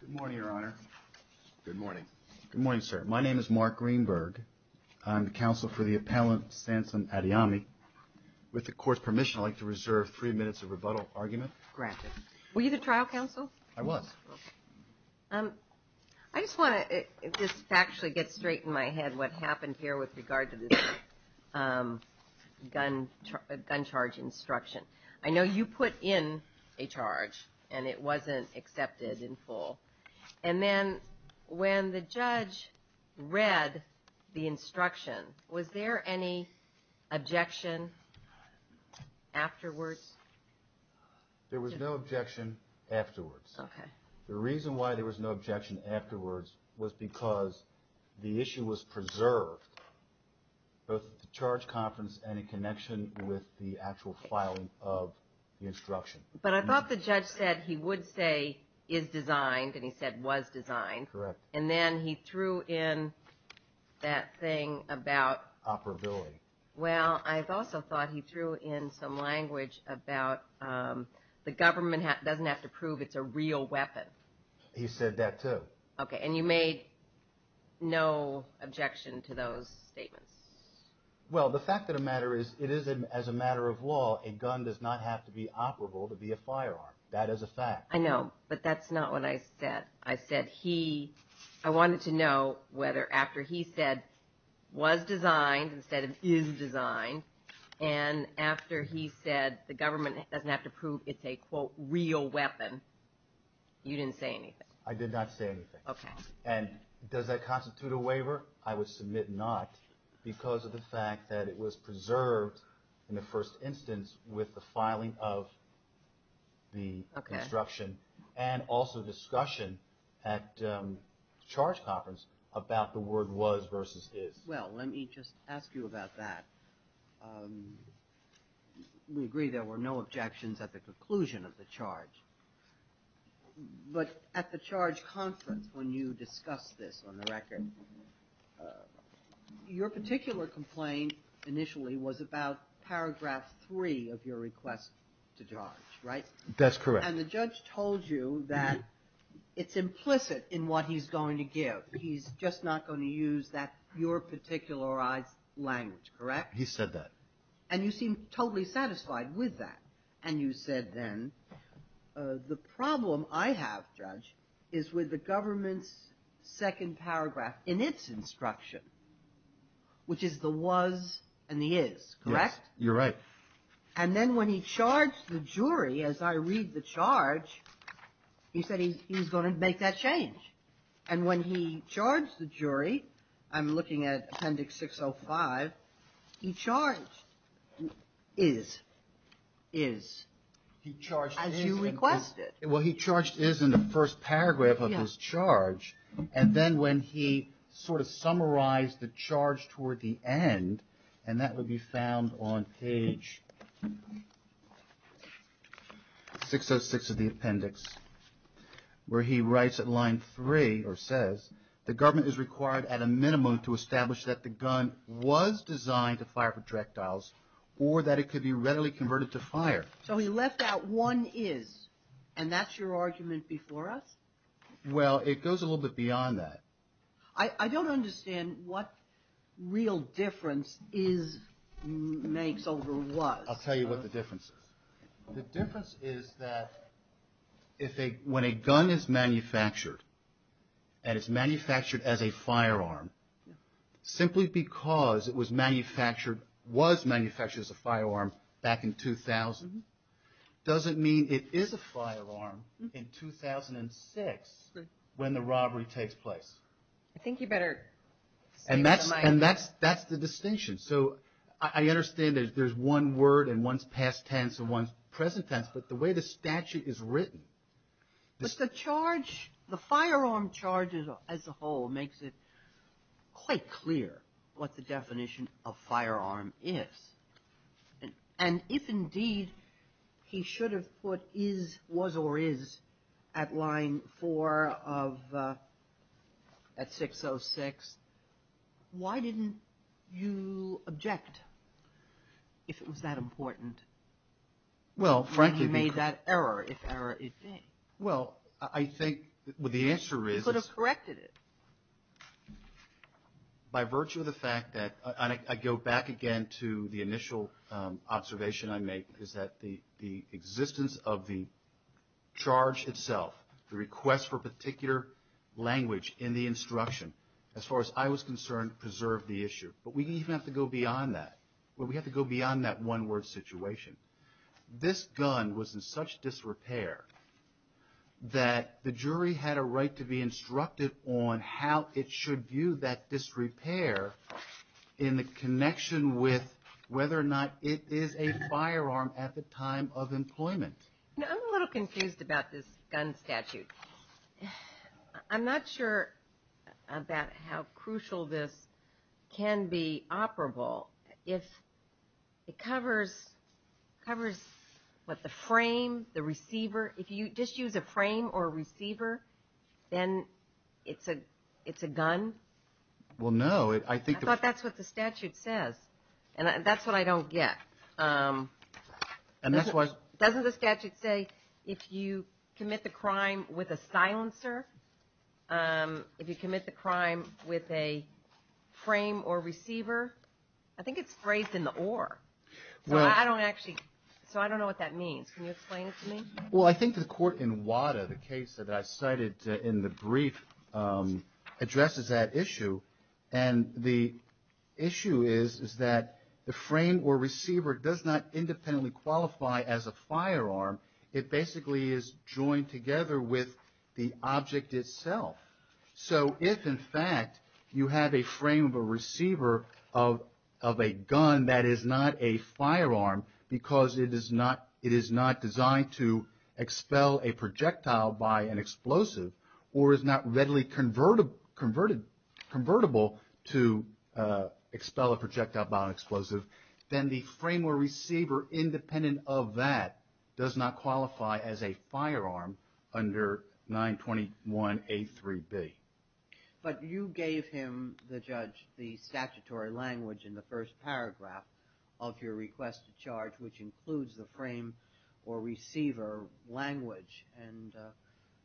Good morning, Your Honor. Good morning. Good morning, sir. My name is Mark Greenberg. I'm the counsel for the appellant, Sansom Adeyemi. With the court's permission, I'd like to reserve three minutes of rebuttal argument. Granted. Were you the trial counsel? I was. I just want to just factually get straight in my head what happened here with regard to this gun charge instruction. I know you put in a charge, and it wasn't accepted in full. And then when the judge read the instruction, was there any objection afterwards? There was no objection afterwards. Okay. The reason why there was no objection afterwards was because the issue was preserved, both at the charge conference and in connection with the actual filing of the instruction. But I thought the judge said he would say is designed, and he said was designed. Correct. And then he threw in that thing about... Operability. Well, I've also thought he threw in some language about the government doesn't have to prove it's a real weapon. He said that too. Okay. And you made no objection to those statements? Well, the fact of the matter is it is, as a matter of law, a gun does not have to be operable to be a firearm. That is a fact. I know, but that's not what I said. I said he... I wanted to know whether after he said was designed instead of is designed, and after he said the government doesn't have to prove it's a, quote, real weapon, you didn't say anything? I did not say anything. Okay. And does that constitute a waiver? I would submit not because of the fact that it was preserved in the first instance with the filing of the instruction and also discussion at charge conference about the word was versus is. Well, let me just ask you about that. We agree there were no objections at the conclusion of the charge, but at the charge conference when you discussed this on the record, your particular complaint initially was about paragraph three of your request to charge, right? That's correct. And the judge told you that it's implicit in what he's going to give. He's just not going to use that, your particularized language, correct? He said that. And you seemed totally satisfied with that. And you said then the problem I have, Judge, is with the government's second paragraph in its instruction, which is the was and the is, correct? Yes. You're right. And then when he charged the jury, as I read the charge, you said he was going to make that change. And when he charged the jury, I'm looking at Appendix 605, he charged is, as you requested. Well, he charged is in the first paragraph of his charge. And then when he sort of summarized the charge toward the end, and that would be found on page 606 of the appendix, where he writes at line three, or says, the government is required at a minimum to establish that the gun was designed to fire projectiles or that it could be readily converted to fire. So he left out one is, and that's your argument before us? Well, it goes a little bit beyond that. I don't understand what real difference is makes over was. I'll tell you what the difference is. The difference is that when a gun is manufactured, and it's manufactured as a firearm, simply because it was manufactured, was manufactured as a firearm back in 2000, doesn't mean it is a firearm in 2006 when the robbery takes place. I think you better see where I'm at. And that's the distinction. So I understand that there's one word in one's past tense and one's present tense, but the way the statute is written. But the charge, the firearm charge as a whole makes it quite clear what the definition of firearm is. And if indeed he should have put is, was, or is at line four of, at 606, why didn't you object if it was that important? He made that error, if error is thing. Well, I think the answer is. He could have corrected it. By virtue of the fact that, and I go back again to the initial observation I make, is that the existence of the charge itself, the request for particular language in the instruction, as far as I was concerned, preserved the issue. But we even have to go beyond that. Well, we have to go beyond that one word situation. This gun was in such disrepair that the jury had a right to be instructed on how it should view that disrepair in the connection with whether or not it is a firearm at the time of employment. Now, I'm a little confused about this gun statute. I'm not sure about how crucial this can be to the statute. It doesn't have to be operable. It covers, what, the frame, the receiver. If you just use a frame or receiver, then it's a gun? Well, no. I thought that's what the statute says. And that's what I don't get. Doesn't the statute say if you commit the crime with a silencer, if you commit the crime with a frame or receiver, I think it's phrased in the OR. So I don't know what that means. Can you explain it to me? Well, I think the court in WADA, the case that I cited in the brief, addresses that issue. And the issue is that the frame or receiver does not independently qualify as a firearm. It basically is joined together with the object itself. So if, in fact, you have a frame of a receiver of a gun that is not a firearm because it is not designed to expel a projectile by an explosive, or is not readily convertible to expel a projectile by an explosive, then the frame or receiver, independent of that, does not qualify as a firearm under 921A3B. But you gave him, the judge, the statutory language in the first paragraph of your request to charge, which includes the frame or receiver language. And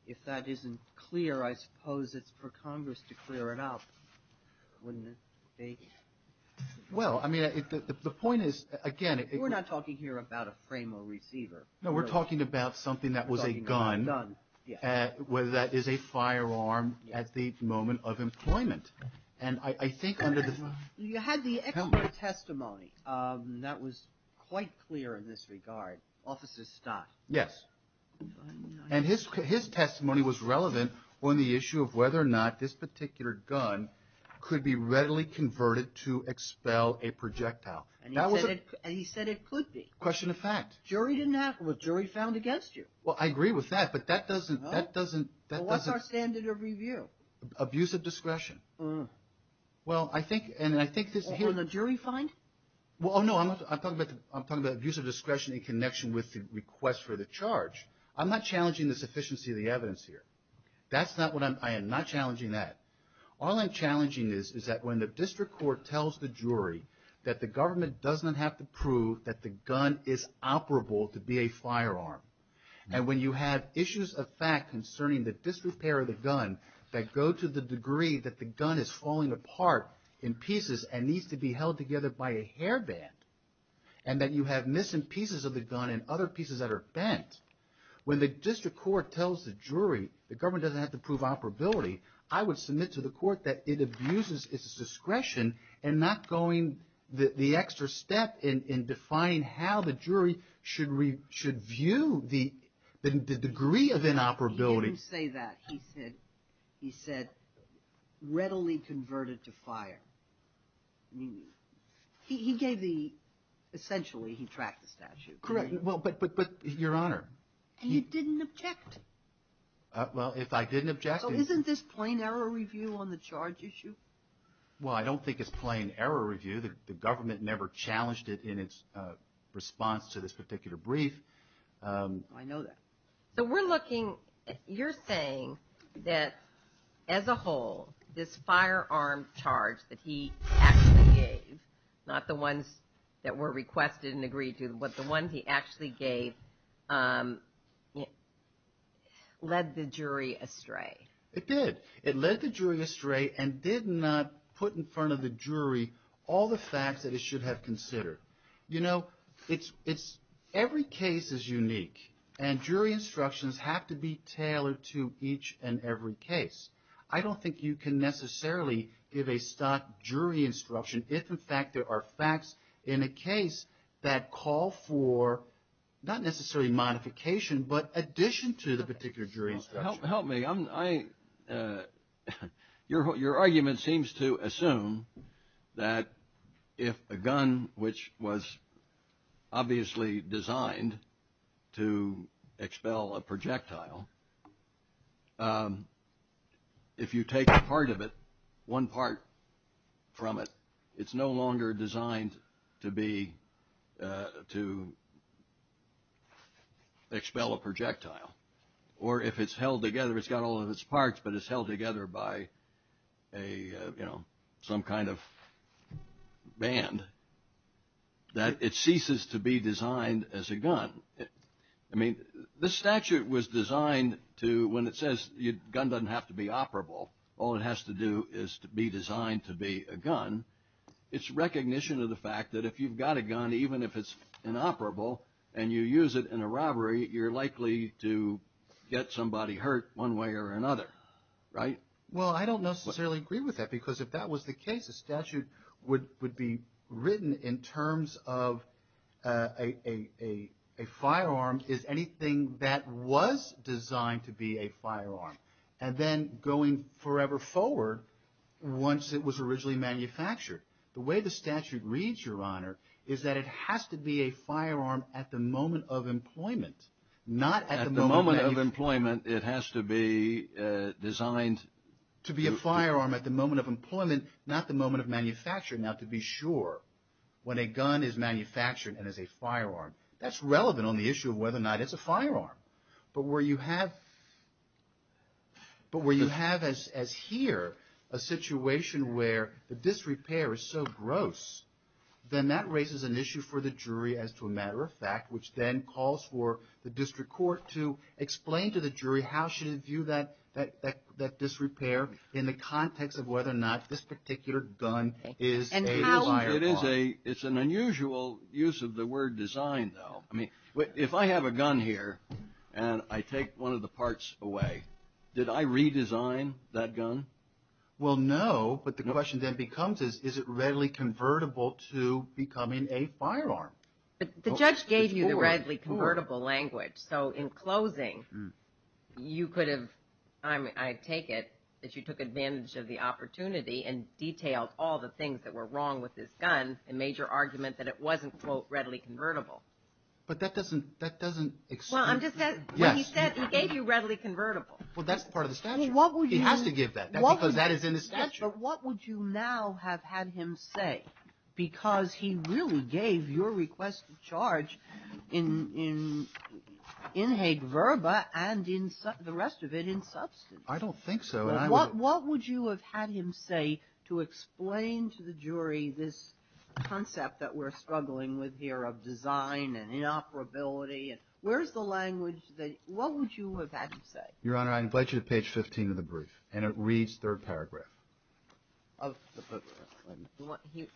if that isn't clear, I suppose it's for Congress to clear it up, wouldn't it be? Well, I mean, the point is, again... We're not talking here about a frame or receiver. No, we're talking about something that was a gun that is a firearm at the moment of employment. And I think under the... You had the expert testimony that was quite clear in this regard, Officer Stott. Yes. And his testimony was relevant on the issue of whether or not this particular gun could be readily converted to expel a projectile by an explosive. Well, I agree with that, but that doesn't... Well, what's our standard of review? Abusive discretion. For the jury find? Well, no, I'm talking about abusive discretion in connection with the request for the charge. I'm not challenging the sufficiency of the evidence here. That's not what I'm... I am not challenging that. All I'm challenging is that when the district court tells the jury, that the government doesn't have to prove that the gun is operable to be a firearm. And when you have issues of fact concerning the disrepair of the gun, that go to the degree that the gun is falling apart in pieces and needs to be held together by a hairband. And that you have missing pieces of the gun and other pieces that are bent. The government doesn't have to prove operability. I would submit to the court that it abuses its discretion and not going the extra step in defining how the jury should view the degree of inoperability. He didn't say that. He said readily converted to fire. He gave the... essentially he tracked the statute. Correct. Well, but Your Honor... And you didn't object? Well, if I didn't object... So isn't this plain error review on the charge issue? Well, I don't think it's plain error review. The government never challenged it in its response to this particular brief. I know that. So we're looking... You're saying that as a whole, this firearm charge that he actually gave, not the ones that were requested and agreed to, but the ones he actually gave, led the jury astray? It did. It led the jury astray and did not put in front of the jury all the facts that it should have considered. You know, every case is unique, and jury instructions have to be tailored to each and every case. I don't think you can necessarily give a stock jury instruction if, in fact, there are facts in a case that call for jury instruction. Call for, not necessarily modification, but addition to the particular jury instruction. Help me. Your argument seems to assume that if a gun, which was obviously designed to expel a projectile, if you take a part of it, one part from it, it's no longer designed to be used as a weapon. If it's designed to expel a projectile, or if it's held together, it's got all of its parts, but it's held together by some kind of band, that it ceases to be designed as a gun. I mean, this statute was designed to, when it says a gun doesn't have to be operable, all it has to do is be designed to be a gun, it's recognition of the fact that if you've got a gun, even if it's an operable gun, it's designed to be a gun. If it's not operable, and you use it in a robbery, you're likely to get somebody hurt one way or another, right? Well, I don't necessarily agree with that, because if that was the case, a statute would be written in terms of a firearm is anything that was designed to be a firearm. And then going forever forward, once it was originally manufactured, the way the statute reads, Your Honor, is that it has to be a firearm. It has to be a firearm at the moment of employment, not at the moment of manufacture. At the moment of employment, it has to be designed to... To be a firearm at the moment of employment, not the moment of manufacture. Now, to be sure, when a gun is manufactured and is a firearm, that's relevant on the issue of whether or not it's a firearm. But where you have, as here, a situation where the disrepair is so gross, then that raises an issue for the jury as to a matter of fact. Which then calls for the district court to explain to the jury how should it view that disrepair in the context of whether or not this particular gun is a firearm. It's an unusual use of the word design, though. If I have a gun here, and I take one of the parts away, did I redesign that gun? Well, no, but the question then becomes is, is it readily convertible to becoming a firearm? The judge gave you the readily convertible language, so in closing, you could have... I take it that you took advantage of the opportunity and detailed all the things that were wrong with this gun and made your argument that it wasn't, quote, readily convertible. But that doesn't explain... Well, I'm just saying, what he said, he gave you readily convertible. Well, that's part of the statute. He has to give that, because that is in the statute. But what would you now have had him say? Because he really gave your request of charge in inhade verba and the rest of it in substance. I don't think so. What would you have had him say to explain to the jury this concept that we're struggling with here of design and inoperability? Where's the language that... What would you have had him say? Your Honor, I invite you to page 15 of the brief, and it reads third paragraph. He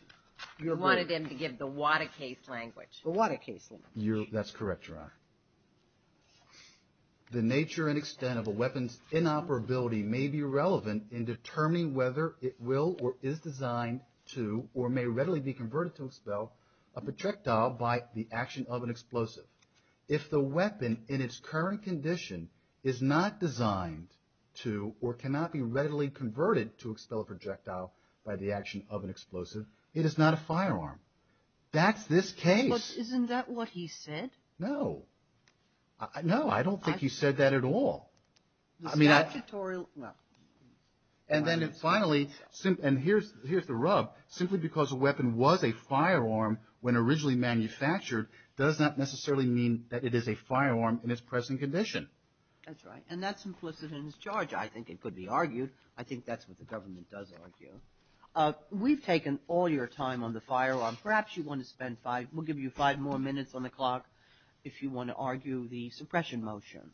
wanted him to give the what a case language. The what a case language. That's correct, Your Honor. The nature and extent of a weapon's inoperability may be relevant in determining whether it will or is designed to or may readily be converted to expel a projectile by the action of an explosive. If the weapon in its current condition is not designed to or cannot be readily converted to expel a projectile, by the action of an explosive, it is not a firearm. That's this case. But isn't that what he said? No. No, I don't think he said that at all. The statutory... And then finally, and here's the rub. Simply because a weapon was a firearm when originally manufactured does not necessarily mean that it is a firearm in its present condition. That's right, and that's implicit in his charge. I think it could be argued. I think that's what the government does argue. We've taken all your time on the firearm. Perhaps you want to spend five. We'll give you five more minutes on the clock if you want to argue the suppression motion.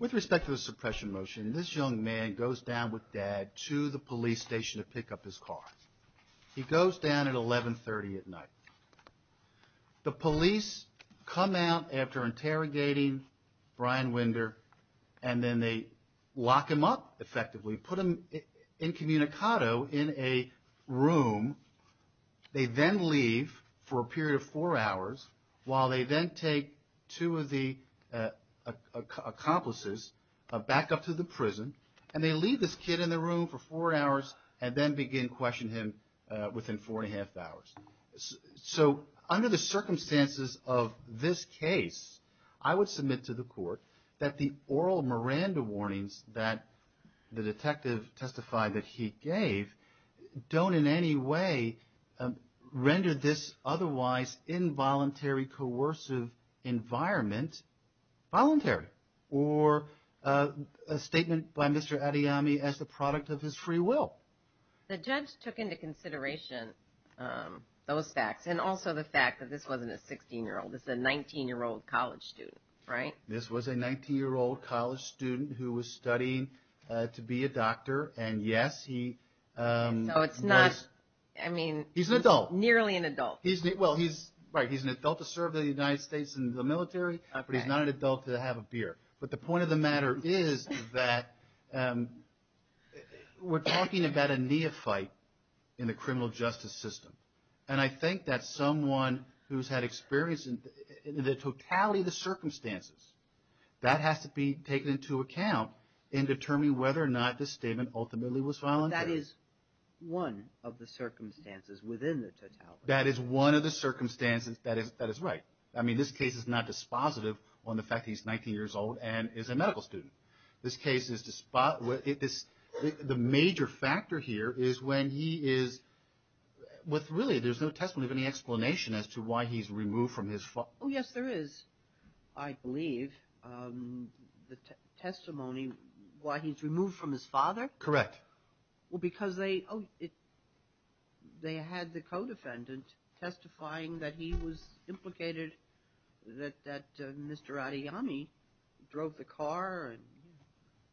With respect to the suppression motion, this young man goes down with dad to the police station to pick up his car. He goes down at 1130 at night. The police come out after interrogating Brian Winder, and then they lock him up, effectively. Put him in a cell. Put him in a cell. Put him in a cell. Put him incommunicado in a room. They then leave for a period of four hours, while they then take two of the accomplices back up to the prison. And they leave this kid in the room for four hours, and then begin questioning him within four and a half hours. So under the circumstances of this case, I would submit to the court that the oral Miranda warnings that the detective testified that he gave, don't in any way render this otherwise involuntary, coercive environment voluntary. Or a statement by Mr. Adeyemi as the product of his free will. The judge took into consideration those facts. And also the fact that this wasn't a 16-year-old. This was a 19-year-old college student, right? This was a 19-year-old college student who was studying to be a doctor, and he had a gun. And yes, he was... So it's not, I mean... He's an adult. Nearly an adult. Well, right, he's an adult to serve the United States in the military, but he's not an adult to have a beer. But the point of the matter is that we're talking about a neophyte in the criminal justice system. And I think that someone who's had experience in the totality of the circumstances, that has to be taken into account in determining whether or not this statement ultimately was voluntary. But that is one of the circumstances within the totality. That is one of the circumstances that is right. I mean, this case is not dispositive on the fact that he's 19 years old and is a medical student. This case is... The major factor here is when he is... Really, there's no testimony of any explanation as to why he's removed from his... Oh, yes, there is, I believe. There is no testimony as to why he's removed from his father? Correct. Well, because they had the co-defendant testifying that he was implicated, that Mr. Adeyemi drove the car and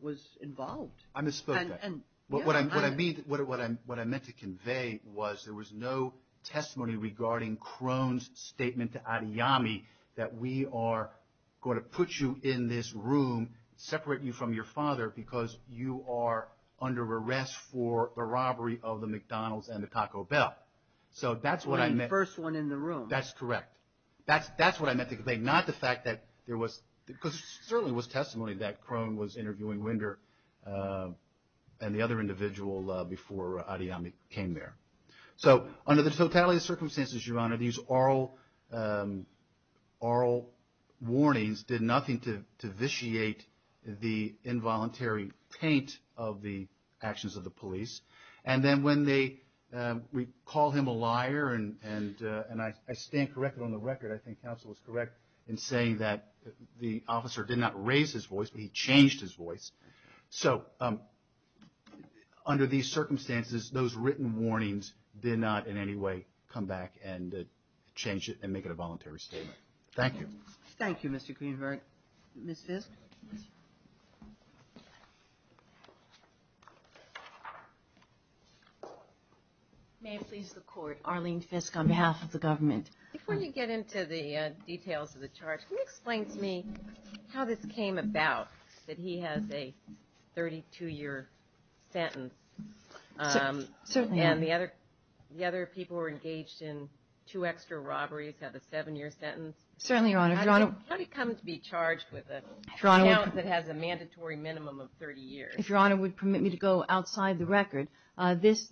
was involved. I misspoke there. What I meant to convey was there was no testimony regarding Crone's statement to Adeyemi that we are going to put you in jail. We are going to put you in this room, separate you from your father, because you are under arrest for the robbery of the McDonald's and the Taco Bell. So that's what I meant. The first one in the room. That's correct. That's what I meant to convey, not the fact that there was... Because there certainly was testimony that Crone was interviewing Winder and the other individual before Adeyemi came there. So under the totality of circumstances, Your Honor, these oral warnings did nothing to change the facts. They did nothing to vitiate the involuntary taint of the actions of the police. And then when they... We call him a liar, and I stand corrected on the record. I think counsel is correct in saying that the officer did not raise his voice. He changed his voice. So under these circumstances, those written warnings did not in any way come back and change it and make it a voluntary statement. Thank you. Ms. Fiske? May it please the Court, Arlene Fiske on behalf of the government. Before you get into the details of the charge, can you explain to me how this came about, that he has a 32-year sentence? Certainly, Your Honor. And the other people who were engaged in two extra robberies have a seven-year sentence? Certainly, Your Honor. How did he come to be charged with a count that has a mandatory minimum of 30 years? If Your Honor would permit me to go outside the record, this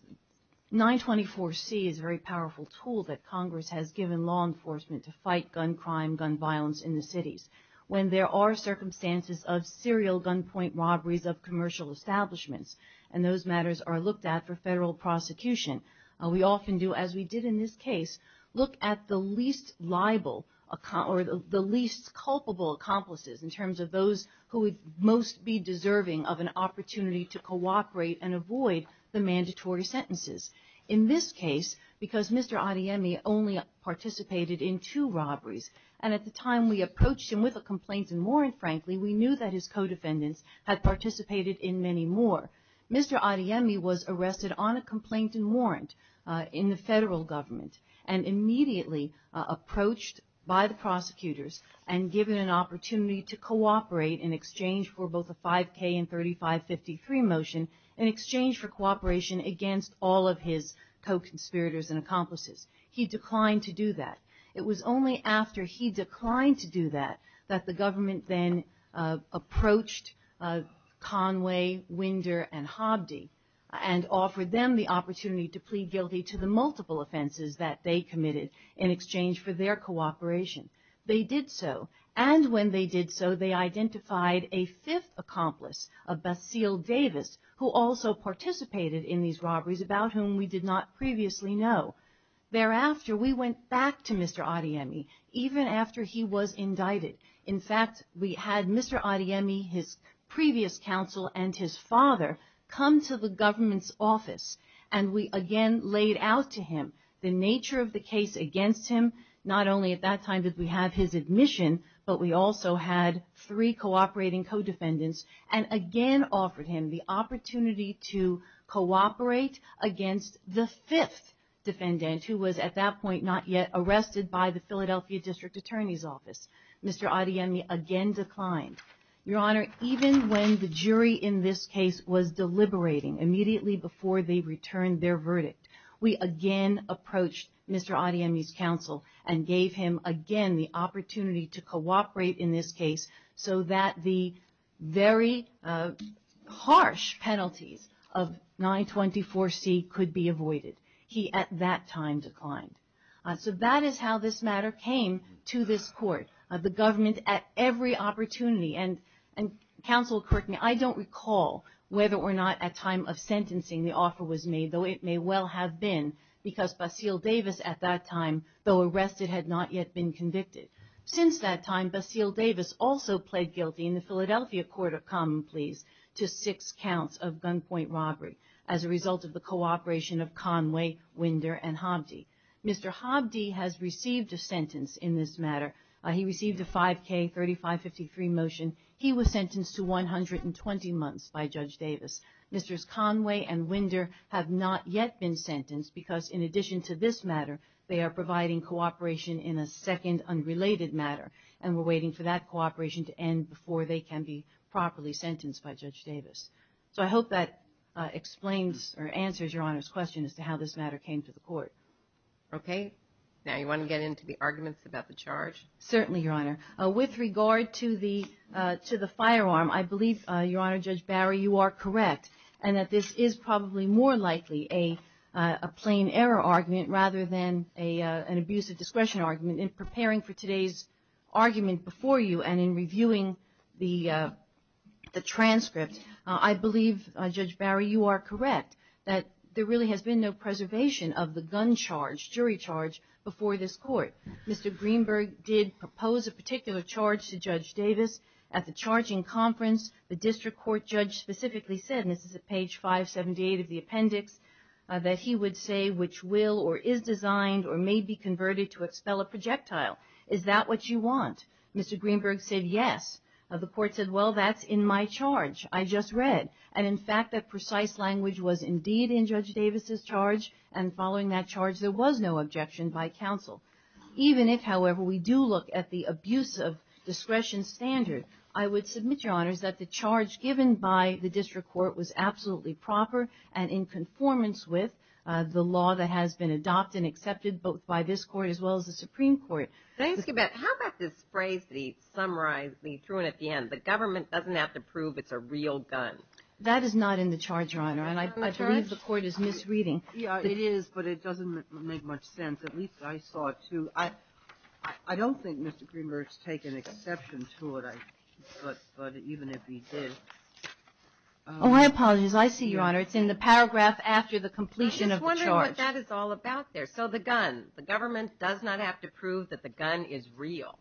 924C is a very powerful tool that Congress has given law enforcement to fight gun crime, gun violence in the cities. When there are circumstances of serial gunpoint robberies of commercial establishments, and those matters are looked at for federal prosecution, we often do, as we did in this case, look at the least liable, or the most liable, account. We look at the least culpable accomplices, in terms of those who would most be deserving of an opportunity to cooperate and avoid the mandatory sentences. In this case, because Mr. Adeyemi only participated in two robberies, and at the time we approached him with a complaint and warrant, frankly, we knew that his co-defendants had participated in many more. Mr. Adeyemi was arrested on a complaint and warrant in the federal government, and immediately approached by the prosecutors, and was charged with a count of 30 years. And given an opportunity to cooperate in exchange for both a 5K and 3553 motion, in exchange for cooperation against all of his co-conspirators and accomplices. He declined to do that. It was only after he declined to do that, that the government then approached Conway, Winder, and Hobdy, and offered them the opportunity to plead guilty to the multiple offenses that they committed in exchange for their cooperation. They did so, and when they did so, they identified a fifth accomplice, a Basile Davis, who also participated in these robberies, about whom we did not previously know. Thereafter, we went back to Mr. Adeyemi, even after he was indicted. In fact, we had Mr. Adeyemi, his previous counsel, and his father come to the government's office, and we again laid out to him the nature of the case against him. Not only at that time did we have his admission, but we also had three cooperating co-defendants, and again offered him the opportunity to cooperate against the fifth defendant, who was at that point not yet arrested by the Philadelphia District Attorney's Office. Mr. Adeyemi again declined. Your Honor, even when the jury in this case was deliberating, immediately before they returned their verdict, we again approached Mr. Adeyemi's counsel. We gave him the opportunity to cooperate in this case, so that the very harsh penalties of 924C could be avoided. He, at that time, declined. So that is how this matter came to this Court. The government, at every opportunity, and counsel, correct me, I don't recall whether or not at time of sentencing the offer was made, though it may well have been, because Basile Davis, at that time, though arrested by the Philadelphia District Attorney's Office, had not yet been convicted. Since that time, Basile Davis also pled guilty in the Philadelphia Court of Common Pleas to six counts of gunpoint robbery, as a result of the cooperation of Conway, Winder, and Hobdy. Mr. Hobdy has received a sentence in this matter. He received a 5K-3553 motion. He was sentenced to 120 months by Judge Davis. Mr. Conway and Winder have not yet been sentenced, because in addition to this matter, they are providing cooperation in a second, unrelated matter. And we're waiting for that cooperation to end, before they can be properly sentenced by Judge Davis. So I hope that explains, or answers, Your Honor's question as to how this matter came to the Court. Okay. Now, you want to get into the arguments about the charge? Certainly, Your Honor. With regard to the firearm, I believe, Your Honor, Judge Barry, you are correct, and that this is probably more likely a plain error argument, rather than a false one. In preparing for today's argument before you, and in reviewing the transcript, I believe, Judge Barry, you are correct, that there really has been no preservation of the gun charge, jury charge, before this Court. Mr. Greenberg did propose a particular charge to Judge Davis. At the charging conference, the district court judge specifically said, and this is at page 578 of the appendix, that he would say, which will, or is designed, or may be converted to expel a projectile. Is that what you want? Mr. Greenberg said, yes. The Court said, well, that's in my charge. I just read. And in fact, that precise language was indeed in Judge Davis's charge, and following that charge, there was no objection by counsel. Even if, however, we do look at the abuse of discretion standard, I would submit, Your Honor, that the charge given by the district court was absolutely proper, and in conformance with the law that has been adopted and accepted both by this Court as well as the Supreme Court. How about this phrase that he summarized, that he threw in at the end? The government doesn't have to prove it's a real gun. That is not in the charge, Your Honor. And I believe the Court is misreading. Yeah, it is, but it doesn't make much sense. At least I saw it, too. I don't think Mr. Greenberg's taken exception to it, but even if he did. Oh, my apologies. As I see, Your Honor, it's in the paragraph after the completion of the charge. I'm just wondering what that is all about there. So, the gun. The government does not have to prove that the gun is real.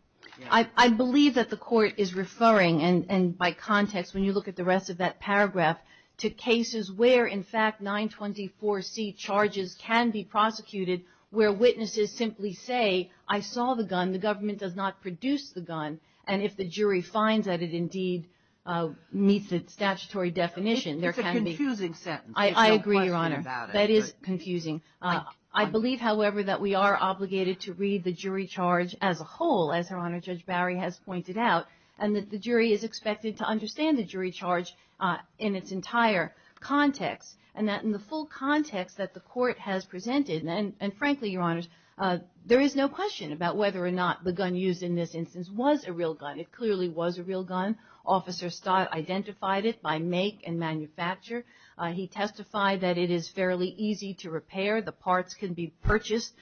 I believe that the Court is referring, and by context, when you look at the rest of that paragraph, to cases where, in fact, 924C charges can be prosecuted, where witnesses simply say, I saw the gun. The government does not produce the gun. And if the jury finds that it indeed meets the statutory definition, there can be... It's a confusing sentence. I agree, Your Honor. That is confusing. I believe, however, that we are obligated to read the jury charge as a whole, as Her Honor Judge Bowery has pointed out, and that the jury is expected to understand the jury charge in its entire context. And that in the full context that the Court has presented, and frankly, Your Honors, there is no question about whether or not the gun used in this instance was a real gun. It clearly was a real gun. Officer Stott identified it by make and manufacture. He testified that it is fairly easy to repair. The parts can be purchased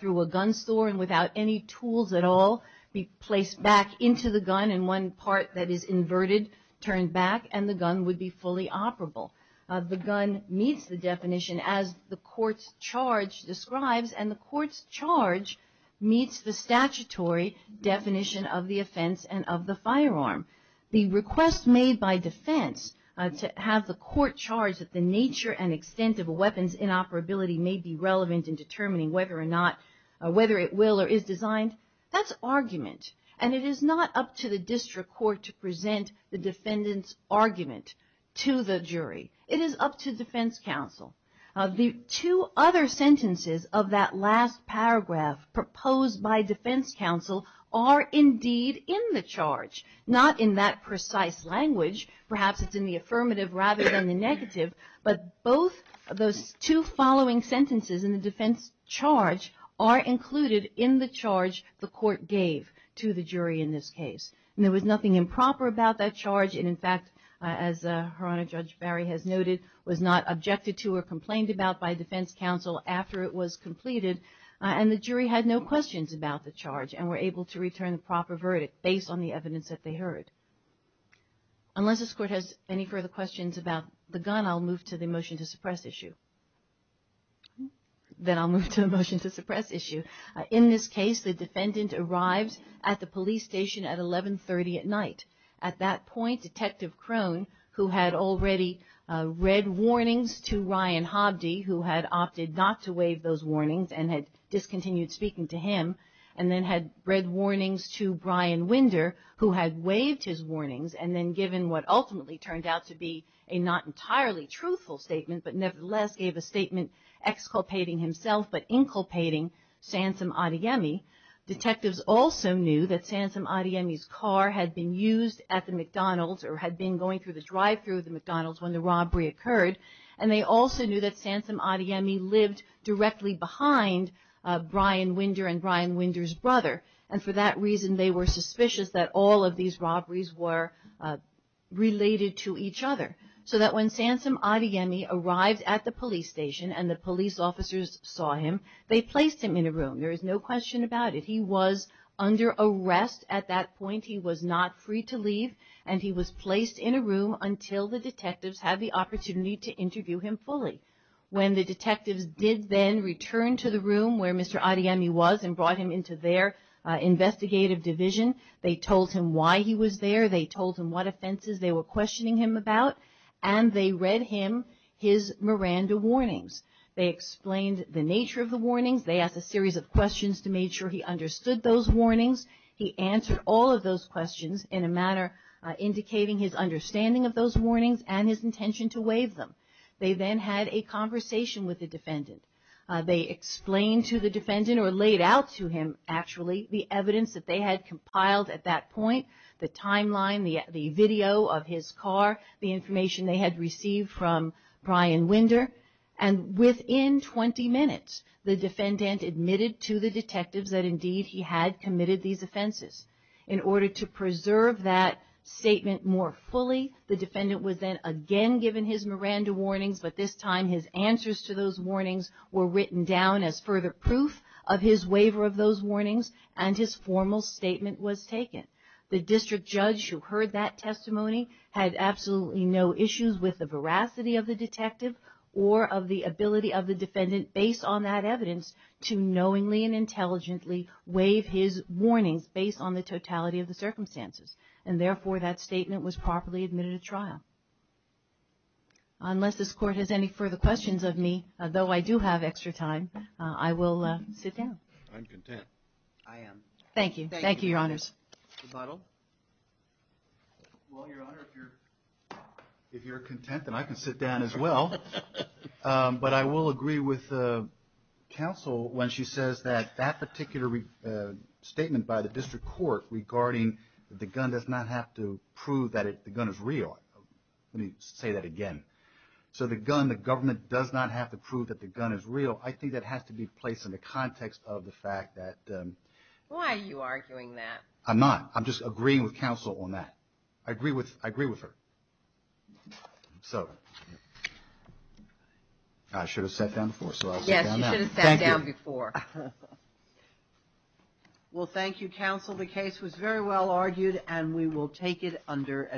through a gun store and without any tools at all be placed back into the gun, and one part that is inverted turned back, and the gun would be fully operable. The gun meets the definition as the Court's charge describes, and the Court's charge meets the statutory definition of the offense and of the firearm. The request made by defense to have the Court charge that the nature and extent of a weapon's inoperability may be relevant in determining whether it will or is designed, that's argument, and it is not up to the District Court to present the defendant's argument to the jury. It is up to defense counsel. The two other sentences of that last paragraph proposed by defense counsel are indeed in the charge, not in that precise language. Perhaps it's in the affirmative rather than the negative, but both of those two following sentences in the defense charge are included in the charge the Court gave to the jury in this case, and there was nothing improper about that charge, and in fact, as Her Honor Judge Barry has noted, was not objected to or complained about by defense counsel after it was presented to the jury. The court had no questions about the charge and were able to return the proper verdict based on the evidence that they heard. Unless this Court has any further questions about the gun, I'll move to the motion to suppress issue. Then I'll move to the motion to suppress issue. In this case, the defendant arrived at the police station at 1130 at night. At that point, Detective Crone, who had already read warnings to Ryan Hobdy, who had opted not to waive those warnings and had discontinued speaking to him, and then had read warnings to Brian Winder, who had waived his warnings, and then given what ultimately turned out to be a not entirely truthful statement, but nevertheless gave a statement exculpating himself, but inculpating Sansom Adeyemi. Detectives also knew that Sansom Adeyemi's car had been used at the McDonald's or had been going through the drive-thru of the McDonald's when the robbery occurred, and they also knew that Sansom Adeyemi lived directly behind Brian Winder and Brian Winder's brother, and for that reason they were suspicious that all of these robberies were related to each other, so that when Sansom Adeyemi arrived at the police station and the police officers saw him, they placed him in a room. There is no question about it. He was under arrest at that point. He was not free to leave, and he was placed in a room until the detectives had the opportunity to interview him fully. When the detectives did then return to the room where Mr. Adeyemi was and brought him into their investigative division, they told him why he was there, they told him what offenses they were questioning him about, and they read him his Miranda warnings. They explained the nature of the warnings. They asked a series of questions to make sure he understood those warnings. He answered all of those questions in a manner indicating his understanding of those warnings and his intention to waive them. They then had a conversation with the defendant. They explained to the defendant, or laid out to him, actually, the evidence that they had compiled at that point, the timeline, the video of his car, the information they had received from Brian Winder, and within 20 minutes, the defendant admitted to the detectives that indeed he had committed these offenses. In order to preserve that statement more fully, the defendant was then again given his Miranda warnings, but this time his answers to those warnings were written down as further proof of his waiver of those warnings, and his formal statement was taken. The district judge who heard that testimony had absolutely no issues with the veracity of the detective or of the ability of the defendant, based on that evidence, to knowingly and intelligently waive his warnings, based on the totality of the circumstances. And therefore, that statement was properly admitted to trial. Unless this Court has any further questions of me, though I do have extra time, I will sit down. I'm content. I am. Thank you. Thank you, Your Honors. Well, Your Honor, if you're content, then I can sit down as well. But I will agree with the counsel when she says that that particular statement by the District Court regarding the gun does not have to prove that the gun is real. Let me say that again. So the gun, the government, does not have to prove that the gun is real. I think that has to be placed in the context of the fact that... Why are you arguing that? I'm not. I'm just agreeing with counsel on that. I agree with her. So... I should have sat down before, so I'll sit down now. Thank you. Well, thank you, counsel. The case was very well argued, and we will take it under...